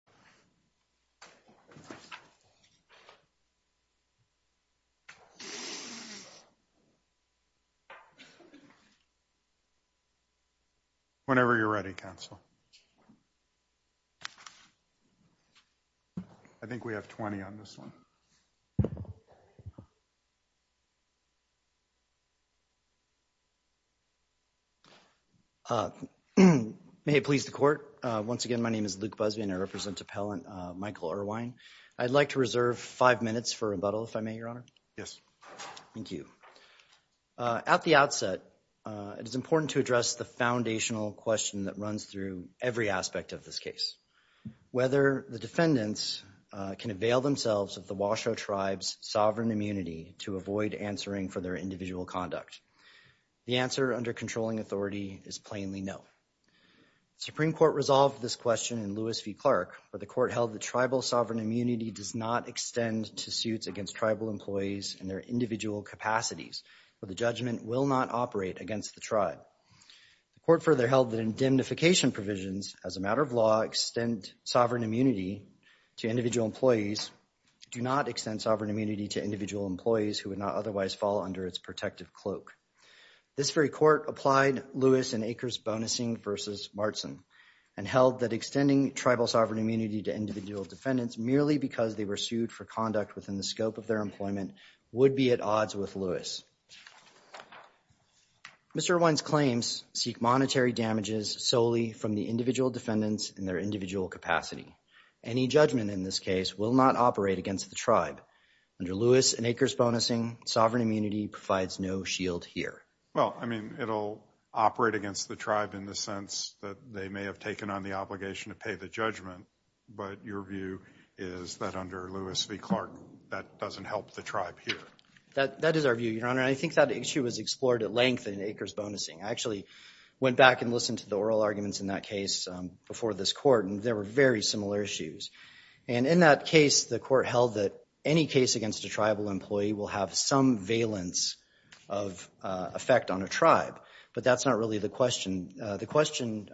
, and think we have 20 on this one. Thank you. May it please the court. Once again, my name is Luke Busby and I represent appellant Michael Irwin. I'd like to reserve five minutes for rebuttal if I may, Your Honor. Yes. Thank you. At the outset, it is important to address the foundational question that runs through every aspect of this case. Whether the defendants can avail themselves of the Washoe tribes sovereign immunity to avoid answering for their individual conduct. The answer under controlling authority is plainly no. Supreme Court resolved this question in Lewis v. Clark, where the court held the tribal sovereign immunity does not extend to suits against tribal employees and their individual capacities, where the judgment will not operate against the tribe. The court further held that indemnification provisions as a matter of law extend sovereign immunity to individual employees do not extend sovereign immunity to individual employees who would not otherwise fall under its protective cloak. This very court applied Lewis and acres bonusing versus Martson and held that extending tribal sovereign immunity to individual defendants merely because they were sued for conduct within the scope of their employment would be at odds with Lewis. Mr. Irwin's claims seek monetary damages solely from the individual defendants in their individual capacity. Any judgment in this case will not operate against the tribe under Lewis and acres bonusing. Sovereign immunity provides no shield here. Well, I mean, it'll operate against the tribe in the sense that they may have taken on the obligation to pay the judgment. But your view is that under Lewis v. Clark, that doesn't help the tribe here. That is our view, Your Honor. I think that issue was explored at length in acres bonusing. I actually went back and listened to the oral arguments in that case before this court, and there were very similar issues. And in that case, the court held that any case against a tribal employee will have some valence of effect on a tribe, but that's not really the question. The question,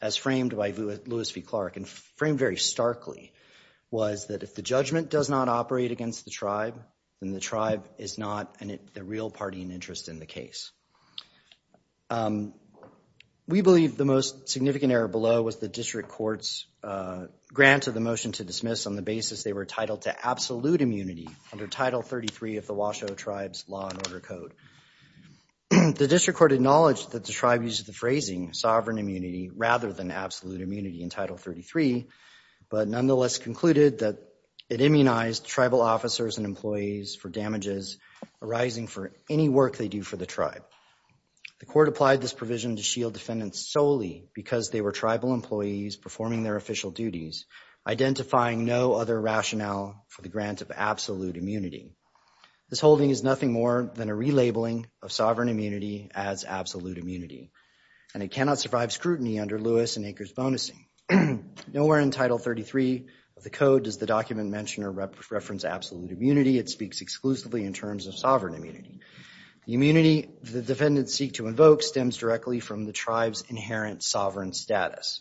as framed by Lewis v. Clark and framed very starkly, was that if the judgment does not operate against the tribe, then the tribe is not the real party in interest in the case. We believe the most significant error below was the district court's grant of the motion to dismiss on the basis they were titled to absolute immunity under Title 33 of the Washoe tribes law and order code. The district court acknowledged that the tribe used the phrasing sovereign immunity rather than absolute immunity in Title 33, but nonetheless concluded that it immunized tribal officers and employees for damages arising for any work they do for the tribe. The court applied this provision to shield defendants solely because they were tribal employees performing their official duties, identifying no other rationale for the grant of absolute immunity. This holding is nothing more than a relabeling of sovereign immunity as absolute immunity, and it cannot survive scrutiny under Lewis and Aker's bonusing. Nowhere in Title 33 of the code does the document mention or reference absolute immunity. It speaks exclusively in terms of sovereign immunity. The immunity the defendants seek to invoke stems directly from the tribe's inherent sovereign status,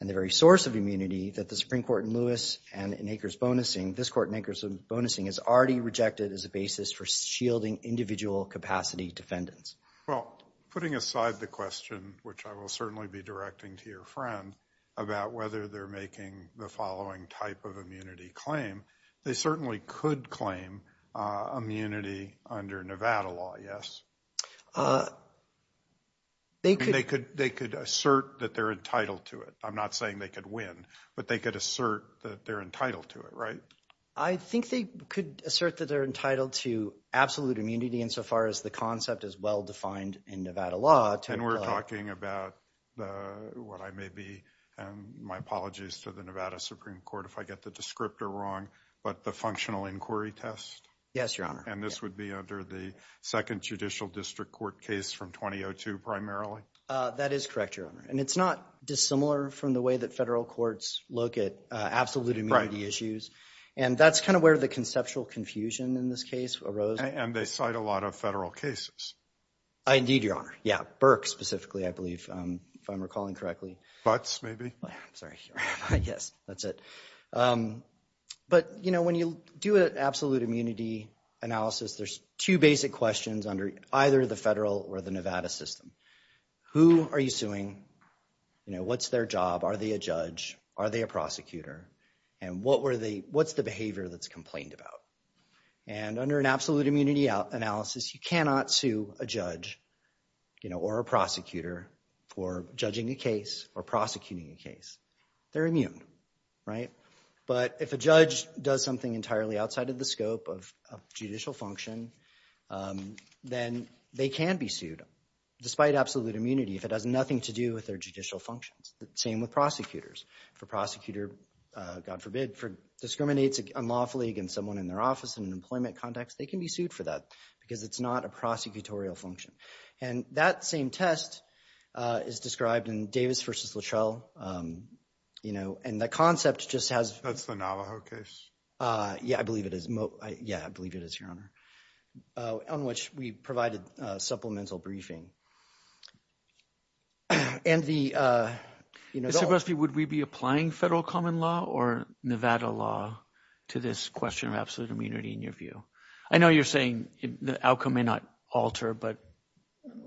and the very source of immunity that the Supreme Court in Lewis and in Aker's bonusing, this court in Aker's bonusing, has already rejected as a basis for shielding individual capacity defendants. Well, putting aside the question, which I will certainly be directing to your friend, about whether they're making the following type of immunity claim, they certainly could claim immunity under Nevada law, yes? They could. They could assert that they're entitled to it. I'm not saying they could win, but they could assert that they're entitled to it, right? I think they could assert that they're entitled to absolute immunity insofar as the concept is well-defined in Nevada law. And we're talking about what I may be, and my apologies to the Nevada Supreme Court if I get the descriptor wrong, but the functional inquiry test? Yes, Your Honor. And this would be under the second judicial district court case from 2002 primarily? That is correct, Your Honor. And it's not dissimilar from the way that federal courts look at absolute immunity issues. And that's kind of where the conceptual confusion in this case arose. And they cite a lot of federal cases. Indeed, Your Honor. Yeah, Burke specifically, I believe, if I'm recalling correctly. Butts, maybe? Sorry. Yes, that's it. But when you do an absolute immunity analysis, there's two basic questions under either the federal or the Nevada system. Who are you suing? What's their job? Are they a judge? Are they a prosecutor? And what's the behavior that's complained about? And under an absolute immunity analysis, you cannot sue a judge or a prosecutor for judging a case or prosecuting a case. They're immune, right? But if a judge does something entirely outside of the scope of judicial function, then they can be sued despite absolute immunity if it has nothing to do with their judicial functions. Same with prosecutors. If a prosecutor, God forbid, discriminates unlawfully against someone in their office in an employment context, they can be sued for that because it's not a prosecutorial function. And that same test is described in Davis v. Lachelle, you know, and the concept just has – That's the Navajo case? Yeah, I believe it is. Yeah, I believe it is, Your Honor, on which we provided supplemental briefing. And the – Mr. Grusby, would we be applying federal common law or Nevada law to this question of absolute immunity in your view? I know you're saying the outcome may not alter, but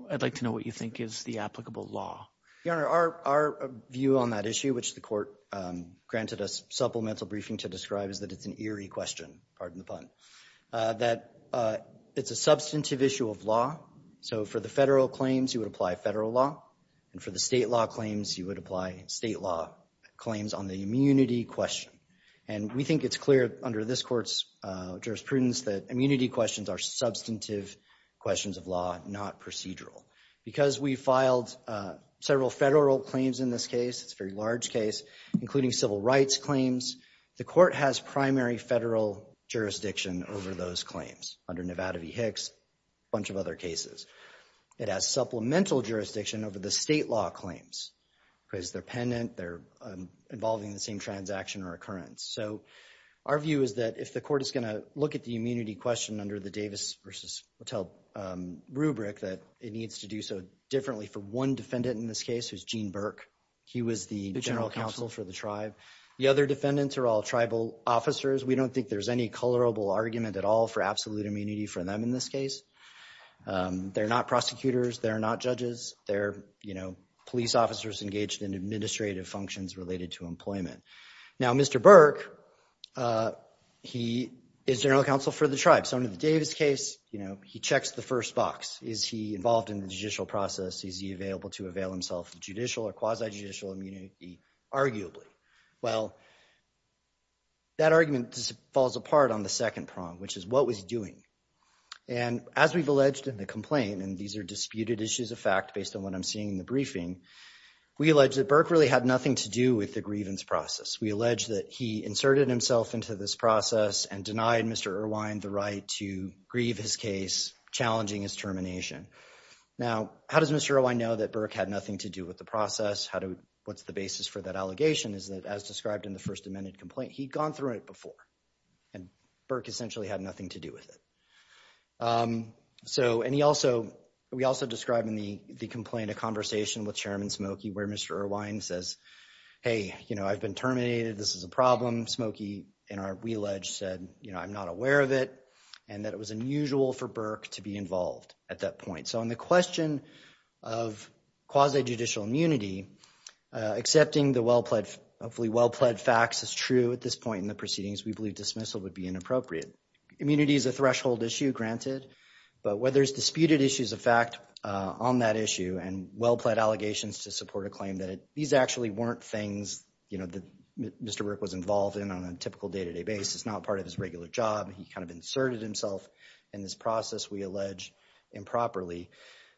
I'd like to know what you think is the applicable law. Your Honor, our view on that issue, which the court granted us supplemental briefing to describe, is that it's an eerie question, pardon the pun, that it's a substantive issue of law. So for the federal claims, you would apply federal law. And for the state law claims, you would apply state law claims on the immunity question. And we think it's clear under this court's jurisprudence that immunity questions are substantive questions of law, not procedural. Because we filed several federal claims in this case, it's a very large case, including civil rights claims, the court has primary federal jurisdiction over those claims. Under Nevada v. Hicks, a bunch of other cases. It has supplemental jurisdiction over the state law claims. Because they're pendent, they're involving the same transaction or occurrence. So our view is that if the court is going to look at the immunity question under the Davis v. Hotel rubric, that it needs to do so differently for one defendant in this case, who's Gene Burke. He was the general counsel for the tribe. The other defendants are all tribal officers. We don't think there's any colorable argument at all for absolute immunity for them in this case. They're not prosecutors. They're not judges. They're police officers engaged in administrative functions related to employment. Now, Mr. Burke, he is general counsel for the tribe. So under the Davis case, he checks the first box. Is he involved in the judicial process? Is he available to avail himself of judicial or quasi-judicial immunity? Arguably. Well, that argument falls apart on the second prong, which is what was he doing? And as we've alleged in the complaint, and these are disputed issues of fact based on what I'm seeing in the briefing, we allege that Burke really had nothing to do with the grievance process. We allege that he inserted himself into this process and denied Mr. Irwine the right to grieve his case, challenging his termination. Now, how does Mr. Irwine know that Burke had nothing to do with the process? What's the basis for that allegation? The basis for that allegation is that, as described in the first amended complaint, he'd gone through it before, and Burke essentially had nothing to do with it. So, and he also, we also describe in the complaint a conversation with Chairman Smoky where Mr. Irwine says, hey, you know, I've been terminated. This is a problem. Smoky, we allege, said, you know, I'm not aware of it, and that it was unusual for Burke to be involved at that point. So, on the question of quasi-judicial immunity, accepting the well-pledged, hopefully well-pledged facts is true at this point in the proceedings. We believe dismissal would be inappropriate. Immunity is a threshold issue, granted, but where there's disputed issues of fact on that issue and well-pledged allegations to support a claim, that these actually weren't things, you know, that Mr. Burke was involved in on a typical day-to-day basis, not part of his regular job. He kind of inserted himself in this process, we allege, improperly,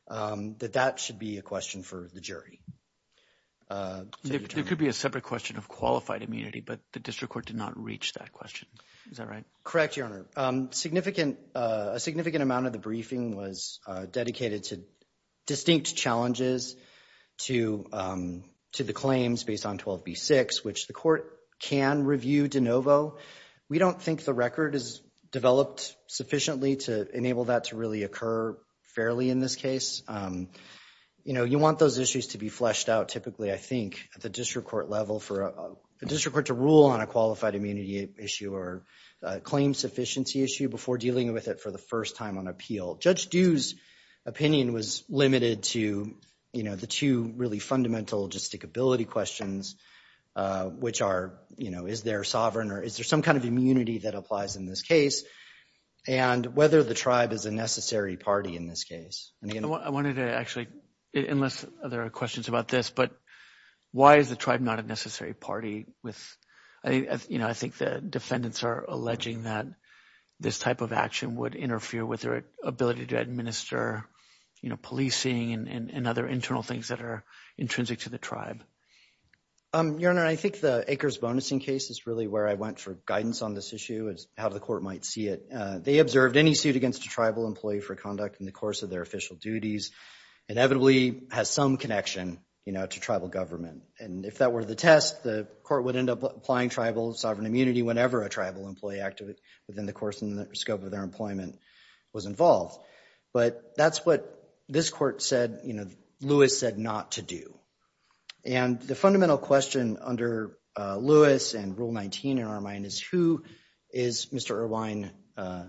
that that should be a question for the jury. There could be a separate question of qualified immunity, but the district court did not reach that question. Is that right? Correct, Your Honor. Significant, a significant amount of the briefing was dedicated to distinct challenges to the claims based on 12b-6, which the court can review de novo. We don't think the record is developed sufficiently to enable that to really occur fairly in this case. You know, you want those issues to be fleshed out typically, I think, at the district court level for a district court to rule on a qualified immunity issue or a claim sufficiency issue before dealing with it for the first time on appeal. Judge Due's opinion was limited to, you know, the two really fundamental logistic ability questions, which are, you know, is there sovereign or is there some kind of immunity that applies in this case, and whether the tribe is a necessary party in this case. I wanted to actually, unless there are questions about this, but why is the tribe not a necessary party with, you know, I think the defendants are alleging that this type of action would interfere with their ability to administer, you know, policing and other internal things that are intrinsic to the tribe. Your Honor, I think the acres bonus in case is really where I went for guidance on this issue is how the court might see it. They observed any suit against a tribal employee for conduct in the course of their official duties inevitably has some connection, you know, to tribal government. And if that were the test, the court would end up applying tribal sovereign immunity whenever a tribal employee acted within the course and scope of their employment was involved. But that's what this court said, you know, Lewis said not to do. And the fundamental question under Lewis and Rule 19 in our mind is who is Mr. Irvine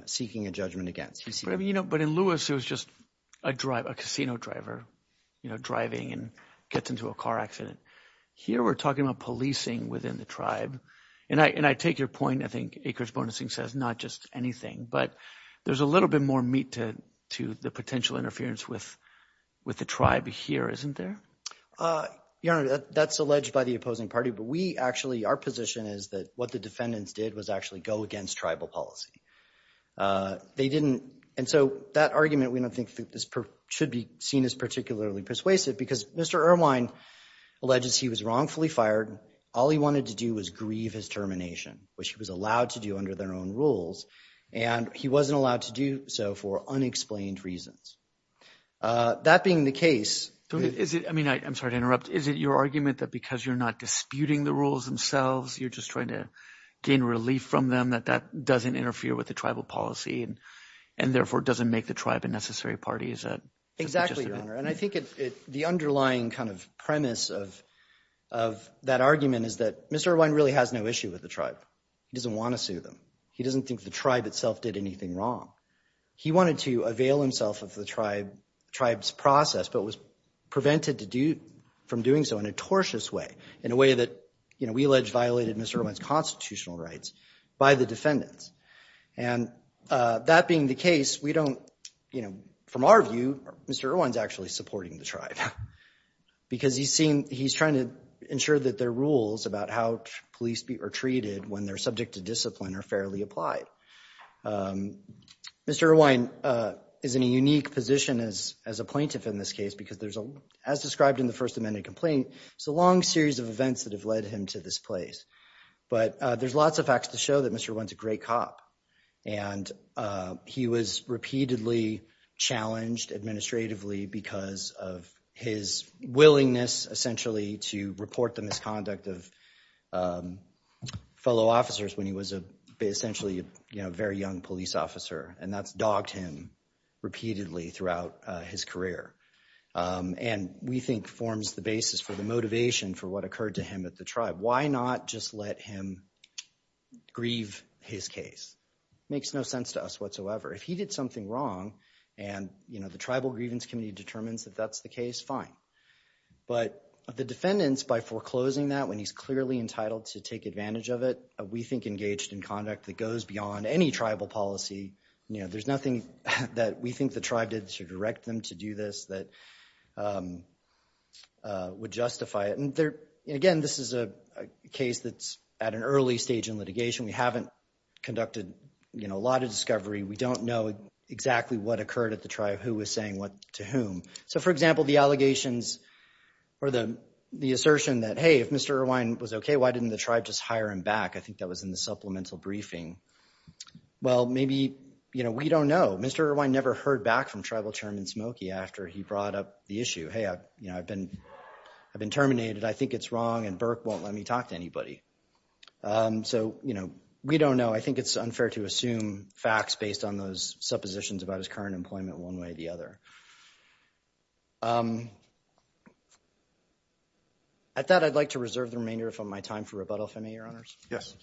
seeking a judgment against? You know, but in Lewis, it was just a casino driver, you know, driving and gets into a car accident. Here we're talking about policing within the tribe. And I take your point. I think acres bonus says not just anything, but there's a little bit more meat to the potential interference with the tribe here, isn't there? Your Honor, that's alleged by the opposing party. But we actually our position is that what the defendants did was actually go against tribal policy. They didn't. And so that argument, we don't think this should be seen as particularly persuasive because Mr. Irvine alleges he was wrongfully fired. All he wanted to do was grieve his termination, which he was allowed to do under their own rules. And he wasn't allowed to do so for unexplained reasons. That being the case. Is it I mean, I'm sorry to interrupt. Is it your argument that because you're not disputing the rules themselves, you're just trying to gain relief from them, that that doesn't interfere with the tribal policy and therefore doesn't make the tribe a necessary party? Exactly, Your Honor. And I think the underlying kind of premise of that argument is that Mr. Irvine really has no issue with the tribe. He doesn't want to sue them. He doesn't think the tribe itself did anything wrong. He wanted to avail himself of the tribe's process, but was prevented from doing so in a tortious way, in a way that we allege violated Mr. Irvine's constitutional rights by the defendants. And that being the case, we don't, you know, from our view, Mr. Irvine's actually supporting the tribe. Because he's trying to ensure that there are rules about how police are treated when they're subject to discipline or fairly applied. Mr. Irvine is in a unique position as a plaintiff in this case because there's, as described in the First Amendment complaint, it's a long series of events that have led him to this place. But there's lots of facts to show that Mr. Irvine's a great cop. And he was repeatedly challenged administratively because of his willingness, essentially, to report the misconduct of fellow officers when he was essentially a very young police officer. And that's dogged him repeatedly throughout his career. And we think forms the basis for the motivation for what occurred to him at the tribe. Why not just let him grieve his case? Makes no sense to us whatsoever. If he did something wrong and, you know, the Tribal Grievance Committee determines that that's the case, fine. But the defendants, by foreclosing that when he's clearly entitled to take advantage of it, we think engaged in conduct that goes beyond any tribal policy, you know, there's nothing that we think the tribe did to direct them to do this that would justify it. And, again, this is a case that's at an early stage in litigation. We haven't conducted, you know, a lot of discovery. We don't know exactly what occurred at the tribe, who was saying what to whom. So, for example, the allegations or the assertion that, hey, if Mr. Irvine was okay, why didn't the tribe just hire him back? I think that was in the supplemental briefing. Well, maybe, you know, we don't know. Mr. Irvine never heard back from Tribal Chairman Smokey after he brought up the issue. Hey, you know, I've been terminated. I think it's wrong, and Burke won't let me talk to anybody. So, you know, we don't know. I think it's unfair to assume facts based on those suppositions about his current employment one way or the other. At that, I'd like to reserve the remainder of my time for rebuttal, if I may, Your Honors. Yes.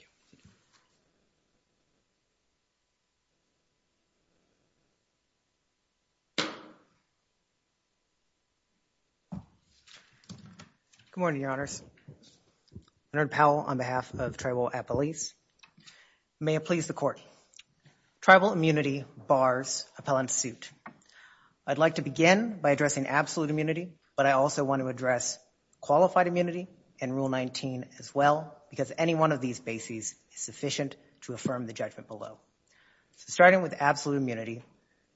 Good morning, Your Honors. Leonard Powell on behalf of Tribal Appellees. May it please the Court. Tribal immunity bars appellant suit. I'd like to begin by addressing absolute immunity, but I also want to address qualified immunity and Rule 19 as well because any one of these bases is sufficient to affirm the judgment below. So starting with absolute immunity,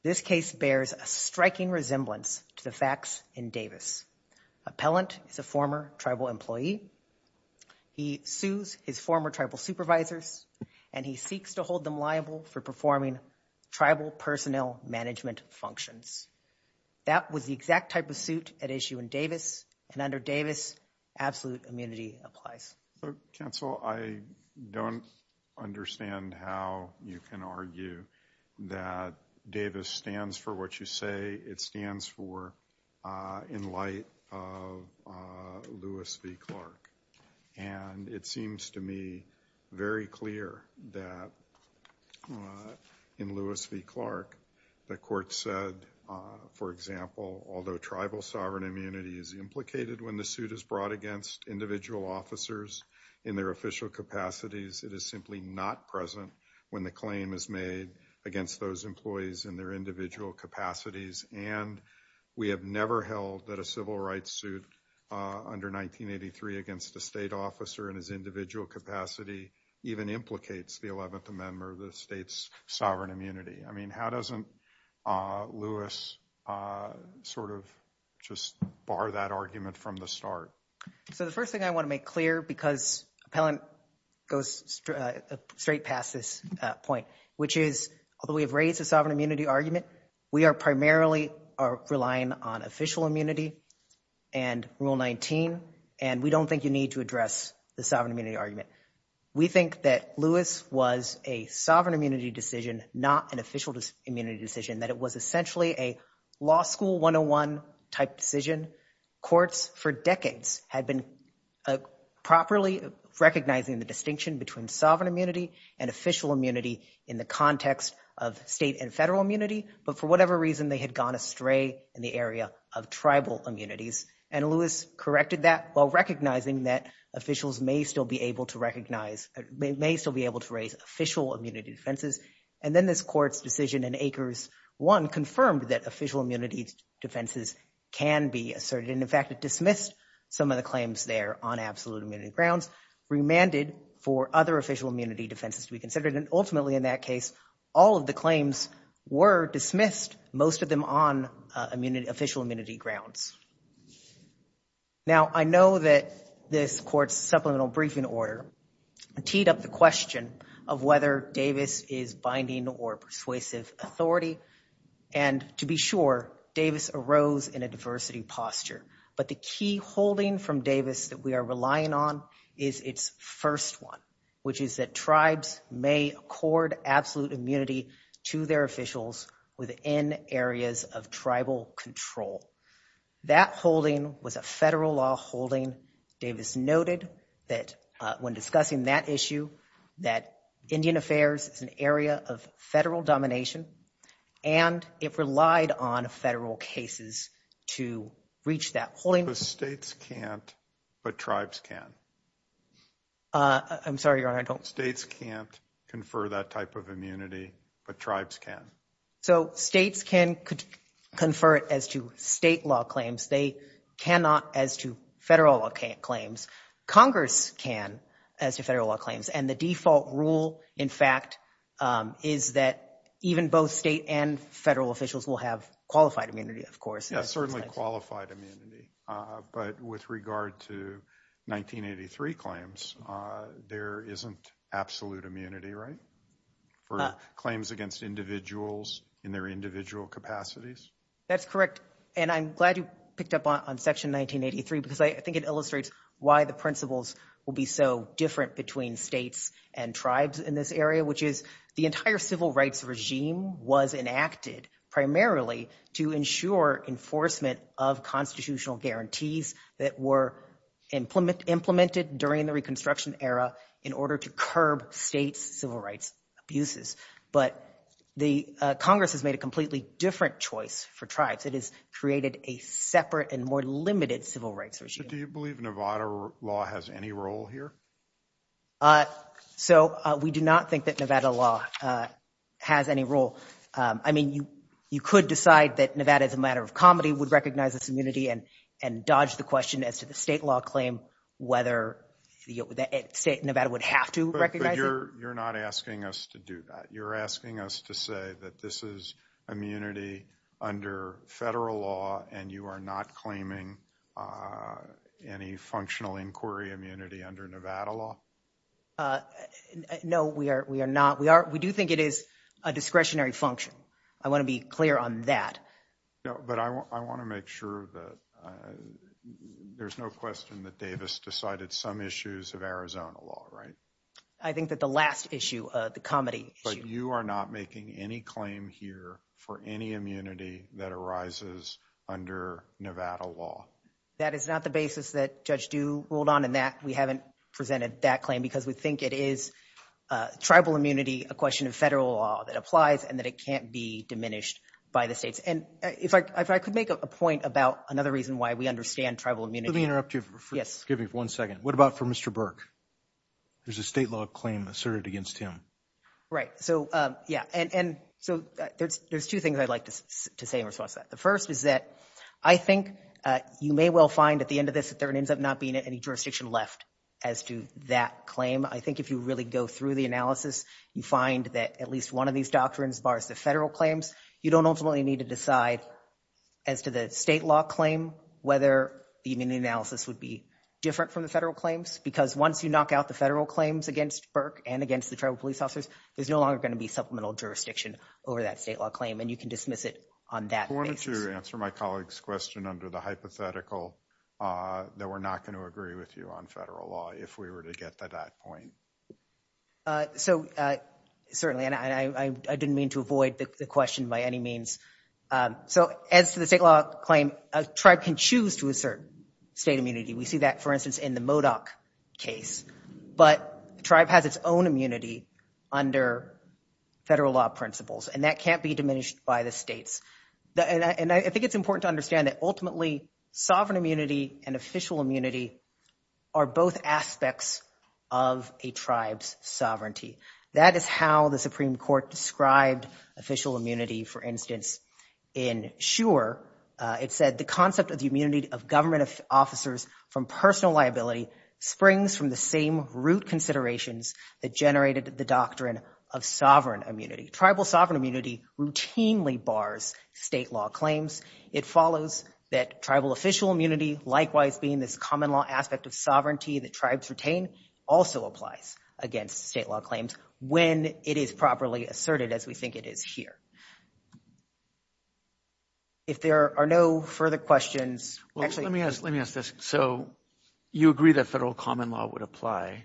this case bears a striking resemblance to the facts in Davis. Appellant is a former Tribal employee. He sues his former Tribal supervisors, and he seeks to hold them liable for performing Tribal personnel management functions. That was the exact type of suit at issue in Davis, and under Davis, absolute immunity applies. Counsel, I don't understand how you can argue that Davis stands for what you say it stands for in light of Lewis v. Clark. And it seems to me very clear that in Lewis v. Clark, the Court said, for example, although Tribal sovereign immunity is implicated when the suit is brought against individual officers in their official capacities, it is simply not present when the claim is made against those employees in their individual capacities. And we have never held that a civil rights suit under 1983 against a state officer in his individual capacity even implicates the 11th Amendment or the state's sovereign immunity. I mean, how doesn't Lewis sort of just bar that argument from the start? So the first thing I want to make clear, because Appellant goes straight past this point, which is although we have raised the sovereign immunity argument, we are primarily relying on official immunity and Rule 19, and we don't think you need to address the sovereign immunity argument. We think that Lewis was a sovereign immunity decision, not an official immunity decision, that it was essentially a law school 101 type decision. Courts for decades had been properly recognizing the distinction between sovereign immunity and official immunity in the context of state and federal immunity. But for whatever reason, they had gone astray in the area of tribal immunities. And Lewis corrected that while recognizing that officials may still be able to recognize, may still be able to raise official immunity defenses. And then this court's decision in Acres 1 confirmed that official immunity defenses can be asserted. And in fact, it dismissed some of the claims there on absolute immunity grounds, remanded for other official immunity defenses to be considered. And ultimately, in that case, all of the claims were dismissed, most of them on official immunity grounds. Now, I know that this court's supplemental briefing order teed up the question of whether Davis is binding or persuasive authority. And to be sure, Davis arose in a diversity posture. But the key holding from Davis that we are relying on is its first one, which is that tribes may accord absolute immunity to their officials within areas of tribal control. That holding was a federal law holding. Davis noted that when discussing that issue, that Indian affairs is an area of federal domination, and it relied on federal cases to reach that holding. Because states can't, but tribes can. I'm sorry, Your Honor, I don't. States can't confer that type of immunity, but tribes can. So states can confer it as to state law claims. They cannot as to federal law claims. Congress can as to federal law claims. And the default rule, in fact, is that even both state and federal officials will have qualified immunity, of course. Yes, certainly qualified immunity. But with regard to 1983 claims, there isn't absolute immunity, right? For claims against individuals in their individual capacities? That's correct. And I'm glad you picked up on Section 1983 because I think it illustrates why the principles will be so different between states and tribes in this area, which is the entire civil rights regime was enacted primarily to ensure enforcement of constitutional guarantees that were implemented during the Reconstruction era in order to curb states' civil rights abuses. But Congress has made a completely different choice for tribes. It has created a separate and more limited civil rights regime. Do you believe Nevada law has any role here? So we do not think that Nevada law has any role. I mean, you could decide that Nevada, as a matter of comedy, would recognize this immunity and dodge the question as to the state law claim whether Nevada would have to recognize it. But you're not asking us to do that. You're asking us to say that this is immunity under federal law, and you are not claiming any functional inquiry immunity under Nevada law? No, we are not. We do think it is a discretionary function. I want to be clear on that. But I want to make sure that there's no question that Davis decided some issues of Arizona law, right? I think that the last issue, the comedy issue. But you are not making any claim here for any immunity that arises under Nevada law? That is not the basis that Judge Dew ruled on in that. We haven't presented that claim because we think it is tribal immunity, a question of federal law that applies, and that it can't be diminished by the states. And if I could make a point about another reason why we understand tribal immunity. Let me interrupt you for one second. What about for Mr. Burke? There's a state law claim asserted against him. Right. So, yeah. And so there's two things I'd like to say in response to that. The first is that I think you may well find at the end of this that there ends up not being any jurisdiction left as to that claim. I think if you really go through the analysis, you find that at least one of these doctrines bars the federal claims. You don't ultimately need to decide as to the state law claim whether the immunity analysis would be different from the federal claims. Because once you knock out the federal claims against Burke and against the tribal police officers, there's no longer going to be supplemental jurisdiction over that state law claim. And you can dismiss it on that basis. I wanted to answer my colleague's question under the hypothetical that we're not going to agree with you on federal law, if we were to get to that point. So, certainly. And I didn't mean to avoid the question by any means. So, as to the state law claim, a tribe can choose to assert state immunity. We see that, for instance, in the Modoc case. But the tribe has its own immunity under federal law principles. And that can't be diminished by the states. And I think it's important to understand that, ultimately, sovereign immunity and official immunity are both aspects of a tribe's sovereignty. That is how the Supreme Court described official immunity. For instance, in Shure, it said, the concept of the immunity of government officers from personal liability springs from the same root considerations that generated the doctrine of sovereign immunity. Tribal sovereign immunity routinely bars state law claims. It follows that tribal official immunity, likewise being this common law aspect of sovereignty that tribes retain, also applies against state law claims when it is properly asserted, as we think it is here. If there are no further questions. Let me ask this. So, you agree that federal common law would apply.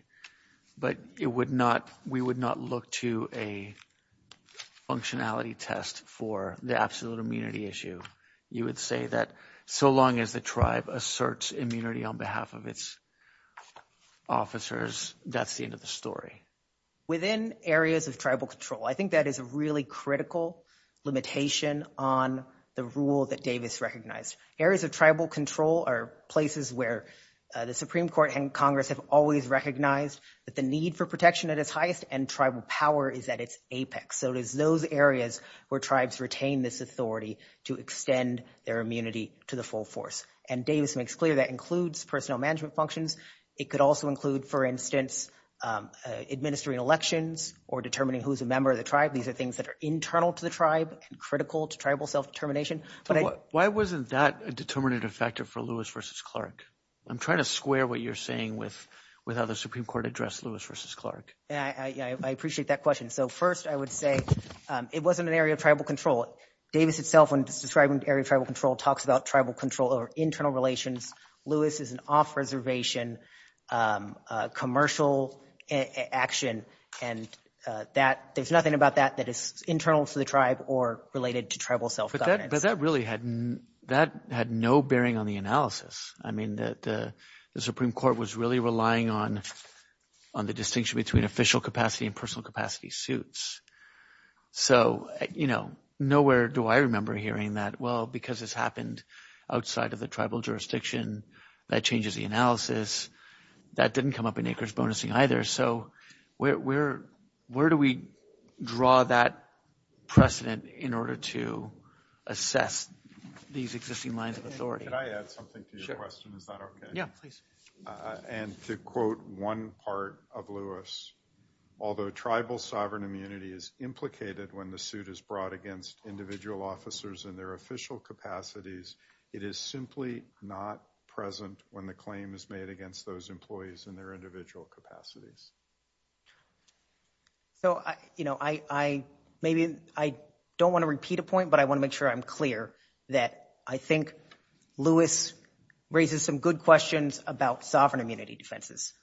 But we would not look to a functionality test for the absolute immunity issue. You would say that so long as the tribe asserts immunity on behalf of its officers, that's the end of the story. Within areas of tribal control, I think that is a really critical limitation on the rule that Davis recognized. Areas of tribal control are places where the Supreme Court and Congress have always recognized that the need for protection at its highest and tribal power is at its apex. So it is those areas where tribes retain this authority to extend their immunity to the full force. And Davis makes clear that includes personnel management functions. It could also include, for instance, administering elections or determining who is a member of the tribe. These are things that are internal to the tribe and critical to tribal self-determination. Why wasn't that a determinative factor for Lewis v. Clark? I'm trying to square what you're saying with how the Supreme Court addressed Lewis v. Clark. I appreciate that question. So first, I would say it wasn't an area of tribal control. Davis itself, when describing area of tribal control, talks about tribal control or internal relations. Lewis is an off-reservation commercial action. And there's nothing about that that is internal to the tribe or related to tribal self-governance. But that really had no bearing on the analysis. I mean, the Supreme Court was really relying on the distinction between official capacity and personal capacity suits. So, you know, nowhere do I remember hearing that, well, because this happened outside of the tribal jurisdiction, that changes the analysis. That didn't come up in acres bonusing either. So where do we draw that precedent in order to assess these existing lines of authority? Can I add something to your question? Is that okay? Yeah, please. And to quote one part of Lewis, although tribal sovereign immunity is implicated when the suit is brought against individual officers in their official capacities, it is simply not present when the claim is made against those employees in their individual capacities. So, you know, I don't want to repeat a point, but I want to make sure I'm clear that I think Lewis raises some good questions about sovereign immunity defenses.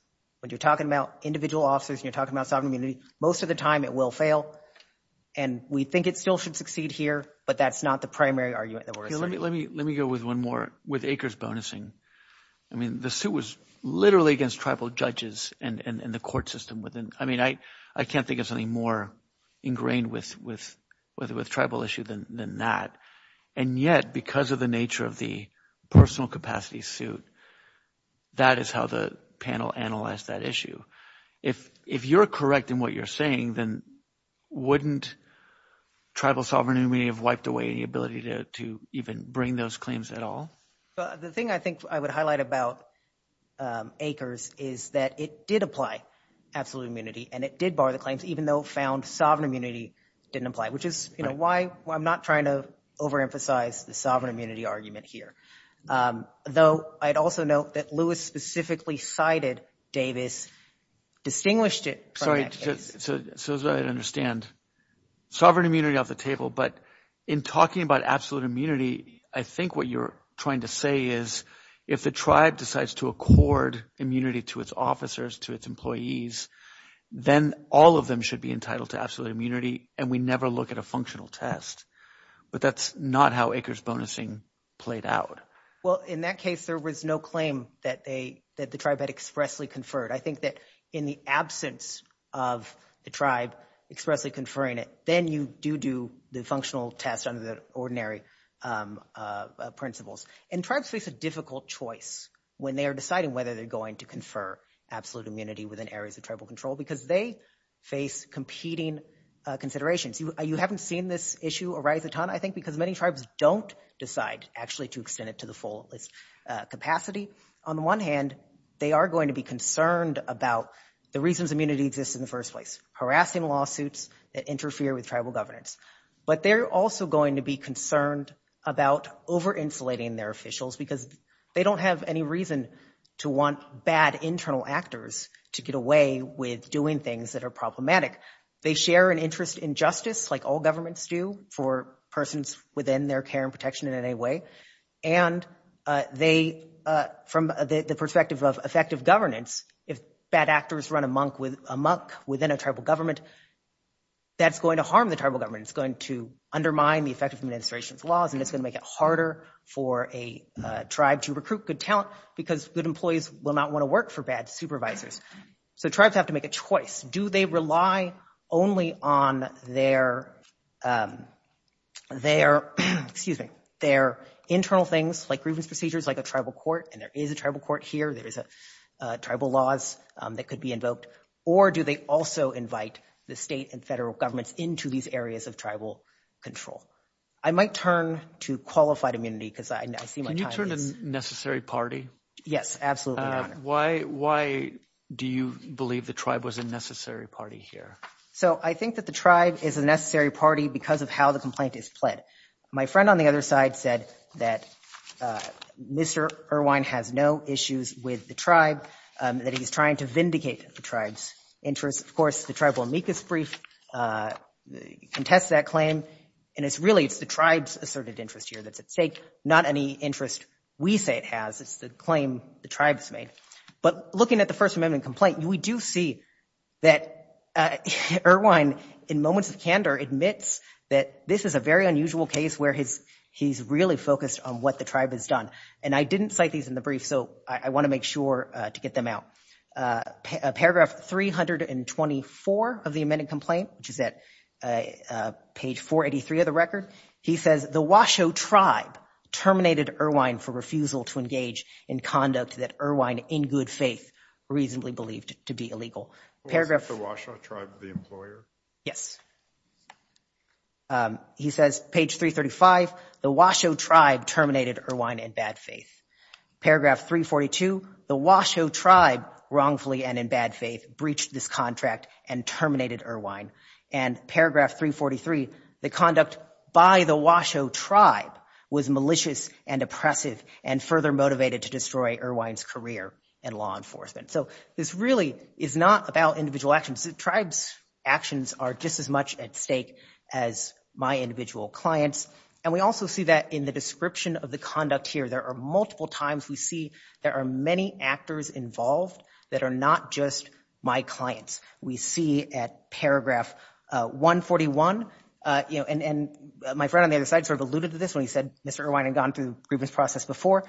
When you're talking about individual officers and you're talking about sovereign immunity, most of the time it will fail. And we think it still should succeed here, but that's not the primary argument. Let me go with one more with acres bonusing. I mean, the suit was literally against tribal judges and the court system. I mean, I can't think of something more ingrained with tribal issue than that. And yet, because of the nature of the personal capacity suit, that is how the panel analyzed that issue. If if you're correct in what you're saying, then wouldn't tribal sovereignty may have wiped away the ability to to even bring those claims at all. But the thing I think I would highlight about acres is that it did apply absolute immunity and it did bar the claims, even though found sovereign immunity didn't apply, which is why I'm not trying to overemphasize the sovereign immunity argument here, though I'd also note that Lewis specifically cited Davis distinguished it. Sorry. So as I understand, sovereign immunity off the table. But in talking about absolute immunity, I think what you're trying to say is if the tribe decides to accord immunity to its officers, to its employees, then all of them should be entitled to absolute immunity. And we never look at a functional test, but that's not how acres bonusing played out. Well, in that case, there was no claim that they that the tribe had expressly conferred. I think that in the absence of the tribe expressly conferring it, then you do do the functional test under the ordinary principles. And tribes face a difficult choice when they are deciding whether they're going to confer absolute immunity within areas of tribal control, because they face competing considerations. You haven't seen this issue arise a ton, I think, because many tribes don't decide actually to extend it to the full capacity. On the one hand, they are going to be concerned about the reasons immunity exists in the first place, harassing lawsuits that interfere with tribal governance. But they're also going to be concerned about over insulating their officials because they don't have any reason to want bad internal actors to get away with doing things that are problematic. They share an interest in justice, like all governments do, for persons within their care and protection in any way. And they, from the perspective of effective governance, if bad actors run amok within a tribal government, that's going to harm the tribal government. It's going to undermine the effective administration's laws, and it's going to make it harder for a tribe to recruit good talent because good employees will not want to work for bad supervisors. So tribes have to make a choice. Do they rely only on their internal things, like grievance procedures, like a tribal court? And there is a tribal court here. There is tribal laws that could be invoked. Or do they also invite the state and federal governments into these areas of tribal control? I might turn to qualified immunity because I see my time is – Can you turn to necessary party? Yes, absolutely, Your Honor. Why do you believe the tribe was a necessary party here? So I think that the tribe is a necessary party because of how the complaint is pled. My friend on the other side said that Mr. Irwine has no issues with the tribe, that he's trying to vindicate the tribe's interests. Of course, the tribal amicus brief contests that claim, and it's really the tribe's asserted interest here that's at stake, not any interest we say it has. It's the claim the tribe's made. But looking at the First Amendment complaint, we do see that Irwine, in moments of candor, admits that this is a very unusual case where he's really focused on what the tribe has done. And I didn't cite these in the brief, so I want to make sure to get them out. Paragraph 324 of the amended complaint, which is at page 483 of the record, he says, the Washoe tribe terminated Irwine for refusal to engage in conduct that Irwine, in good faith, reasonably believed to be illegal. Was it the Washoe tribe, the employer? Yes. He says, page 335, the Washoe tribe terminated Irwine in bad faith. Paragraph 342, the Washoe tribe, wrongfully and in bad faith, breached this contract and terminated Irwine. And paragraph 343, the conduct by the Washoe tribe was malicious and oppressive and further motivated to destroy Irwine's career in law enforcement. So this really is not about individual actions. The tribe's actions are just as much at stake as my individual clients. And we also see that in the description of the conduct here. There are multiple times we see there are many actors involved that are not just my clients. We see at paragraph 141, you know, and my friend on the other side sort of alluded to this when he said Mr. Irwine had gone through the grievance process before.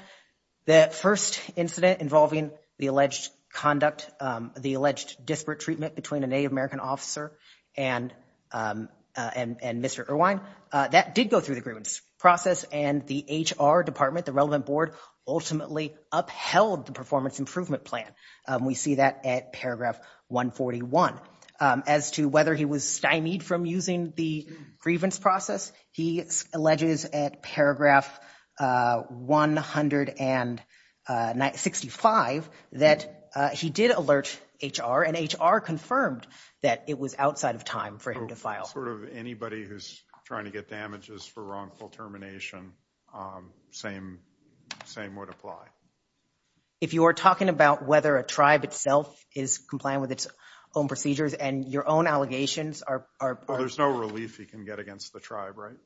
The first incident involving the alleged conduct, the alleged disparate treatment between a Native American officer and Mr. Irwine, that did go through the grievance process. And the HR department, the relevant board, ultimately upheld the performance improvement plan. We see that at paragraph 141. As to whether he was stymied from using the grievance process, he alleges at paragraph 165 that he did alert HR and HR confirmed that it was outside of time for him to file. Sort of anybody who's trying to get damages for wrongful termination, same would apply. If you are talking about whether a tribe itself is compliant with its own procedures and your own allegations are. There's no relief he can get against the tribe, right?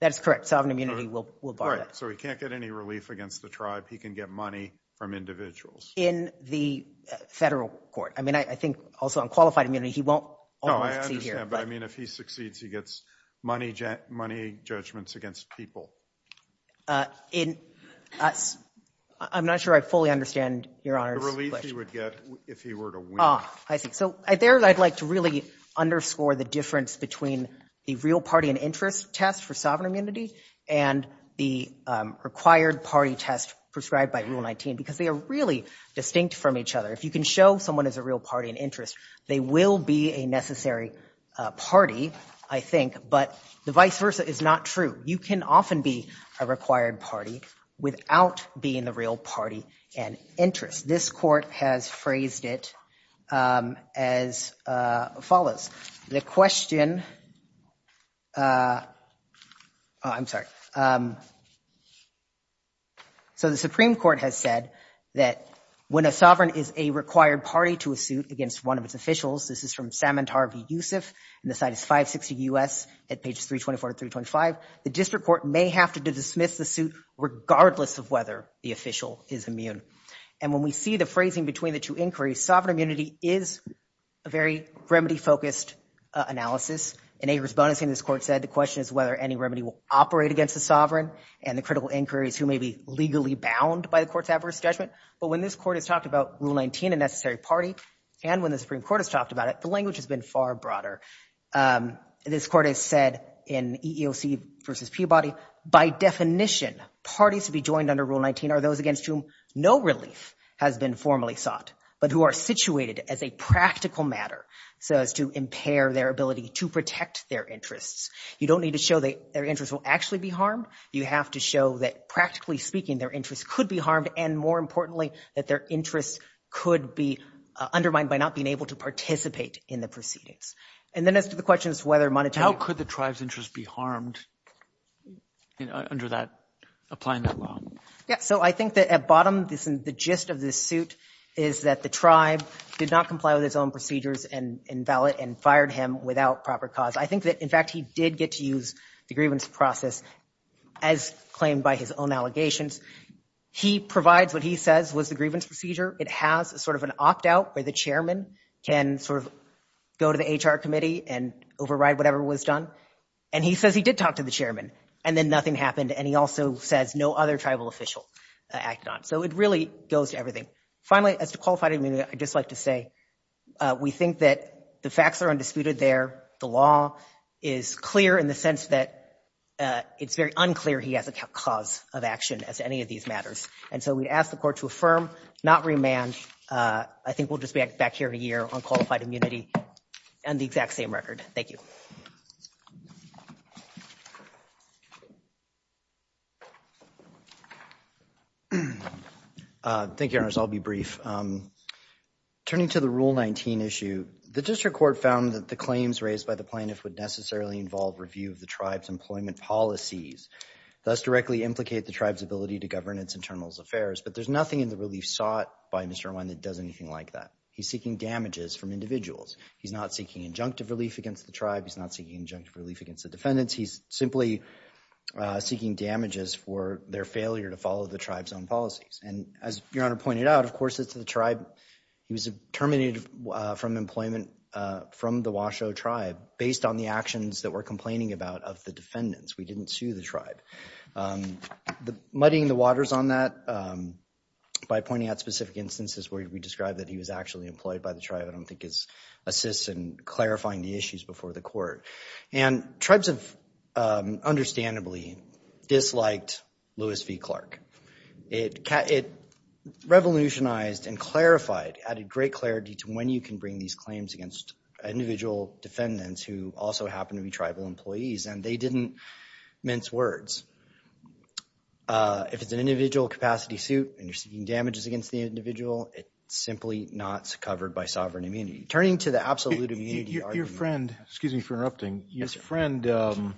That's correct. Sovereign immunity will bar that. So he can't get any relief against the tribe. He can get money from individuals. In the federal court. I mean, I think also on qualified immunity, he won't. No, I understand. But I mean, if he succeeds, he gets money judgments against people. I'm not sure I fully understand your honor's question. The relief he would get if he were to win. Ah, I see. So there I'd like to really underscore the difference between the real party and interest test for sovereign immunity and the required party test prescribed by Rule 19, because they are really distinct from each other. If you can show someone is a real party and interest, they will be a necessary party, I think. But the vice versa is not true. You can often be a required party without being the real party and interest. This court has phrased it as follows. The question. I'm sorry. So the Supreme Court has said that when a sovereign is a required party to a suit against one of its officials, this is from Samantar v. Yusuf, and the site is 560 U.S. at pages 324 to 325. The district court may have to dismiss the suit regardless of whether the official is immune. And when we see the phrasing between the two inquiries, sovereign immunity is a very remedy-focused analysis. In Ager's bonusing, this court said the question is whether any remedy will operate against the sovereign and the critical inquiries who may be legally bound by the court's adverse judgment. But when this court has talked about Rule 19, a necessary party, and when the Supreme Court has talked about it, the language has been far broader. This court has said in EEOC v. Peabody, by definition, parties to be joined under Rule 19 are those against whom no relief has been formally sought but who are situated as a practical matter so as to impair their ability to protect their interests. You don't need to show that their interests will actually be harmed. You have to show that, practically speaking, their interests could be harmed and, more importantly, that their interests could be undermined by not being able to participate in the proceedings. And then as to the question as to whether monetary – How could the tribe's interests be harmed under that – applying that law? Yeah, so I think that at bottom, the gist of this suit is that the tribe did not comply with its own procedures and invalid and fired him without proper cause. I think that, in fact, he did get to use the grievance process as claimed by his own allegations. He provides what he says was the grievance procedure. It has sort of an opt-out where the chairman can sort of go to the HR committee and override whatever was done. And he says he did talk to the chairman, and then nothing happened. And he also says no other tribal official acted on it. So it really goes to everything. Finally, as to qualified immunity, I'd just like to say we think that the facts are undisputed there. The law is clear in the sense that it's very unclear he has a cause of action as to any of these matters. And so we ask the court to affirm, not remand. I think we'll just be back here in a year on qualified immunity and the exact same record. Thank you. Thank you, Your Honors. I'll be brief. Turning to the Rule 19 issue, the district court found that the claims raised by the plaintiff would necessarily involve review of the tribe's employment policies, thus directly implicate the tribe's ability to govern its internal affairs. But there's nothing in the relief sought by Mr. Irwin that does anything like that. He's seeking damages from individuals. He's not seeking injunctive relief against the tribe. He's not seeking injunctive relief against the defendants. He's simply seeking damages for their failure to follow the tribe's own policies. And as Your Honor pointed out, of course it's the tribe. He was terminated from employment from the Washoe tribe based on the actions that were complaining about of the defendants. We didn't sue the tribe. Muddying the waters on that by pointing out specific instances where we describe that he was actually employed by the tribe I don't think assists in clarifying the issues before the court. And tribes have understandably disliked Lewis v. Clark. It revolutionized and clarified, added great clarity to when you can bring these claims against individual defendants who also happen to be tribal employees, and they didn't mince words. If it's an individual capacity suit and you're seeking damages against the individual, it's simply not covered by sovereign immunity. Turning to the absolute immunity argument. Your friend, excuse me for interrupting, your friend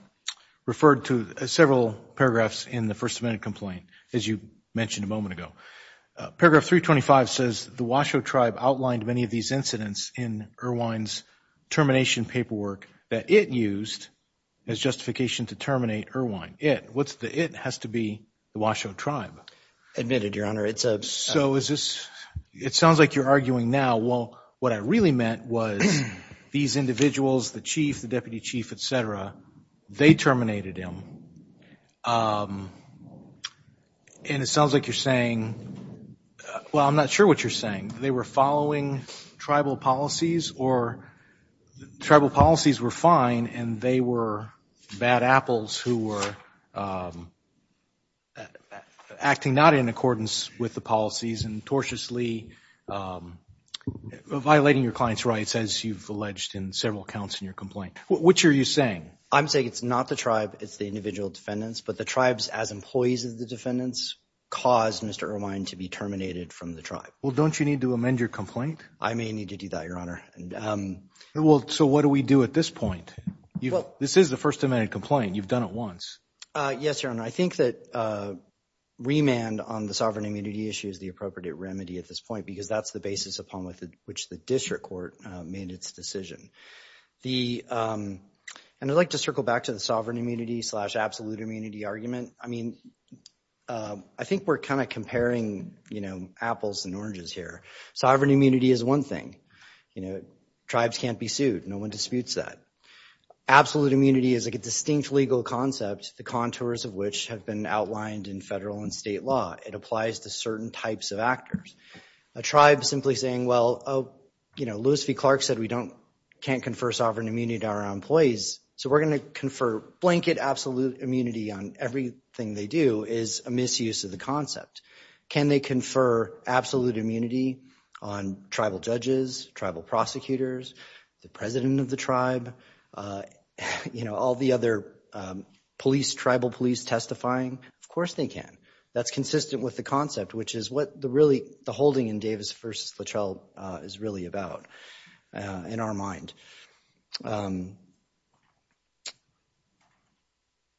referred to several paragraphs in the First Amendment complaint, as you mentioned a moment ago. Paragraph 325 says the Washoe tribe outlined many of these incidents in Irwine's termination paperwork that it used as justification to terminate Irwine. It. What's the it? It has to be the Washoe tribe. Admitted, Your Honor. It sounds like you're arguing now, well, what I really meant was these individuals, the chief, the deputy chief, et cetera, they terminated him. And it sounds like you're saying, well, I'm not sure what you're saying. They were following tribal policies or tribal policies were fine and they were bad apples who were acting not in accordance with the policies and tortiously violating your client's rights, as you've alleged in several accounts in your complaint. Which are you saying? I'm saying it's not the tribe. It's the individual defendants. But the tribes as employees of the defendants caused Mr. Irwine to be terminated from the tribe. Well, don't you need to amend your complaint? I may need to do that, Your Honor. Well, so what do we do at this point? This is the First Amendment complaint. You've done it once. Yes, Your Honor. I think that remand on the sovereign immunity issue is the appropriate remedy at this point because that's the basis upon which the district court made its decision. And I'd like to circle back to the sovereign immunity slash absolute immunity argument. I mean, I think we're kind of comparing apples and oranges here. Sovereign immunity is one thing. Tribes can't be sued. No one disputes that. Absolute immunity is a distinct legal concept, the contours of which have been outlined in federal and state law. It applies to certain types of actors. A tribe simply saying, well, you know, Lewis v. Clark said we can't confer sovereign immunity to our employees, so we're going to confer blanket absolute immunity on everything they do is a misuse of the concept. Can they confer absolute immunity on tribal judges, tribal prosecutors, the president of the tribe, you know, all the other police, tribal police testifying? Of course they can. That's consistent with the concept, which is what the really the holding in Davis v. Fletchell is really about in our mind.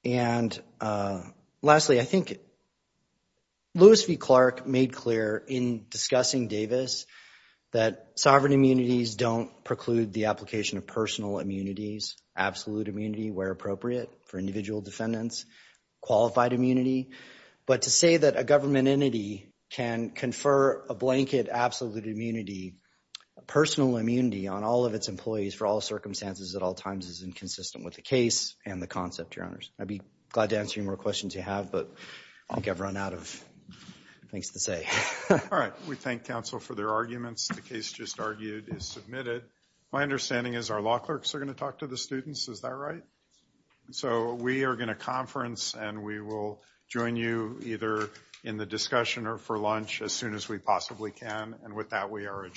And lastly, I think Lewis v. Clark made clear in discussing Davis that sovereign immunities don't preclude the application of personal immunities, absolute immunity where appropriate for individual defendants, qualified immunity. But to say that a government entity can confer a blanket absolute immunity, personal immunity on all of its employees for all circumstances at all times is inconsistent with the case and the concept, I'd be glad to answer any more questions you have, but I think I've run out of things to say. All right. We thank counsel for their arguments. The case just argued is submitted. My understanding is our law clerks are going to talk to the students. Is that right? So we are going to conference and we will join you either in the discussion or for lunch as soon as we possibly can. And with that, we are adjourned.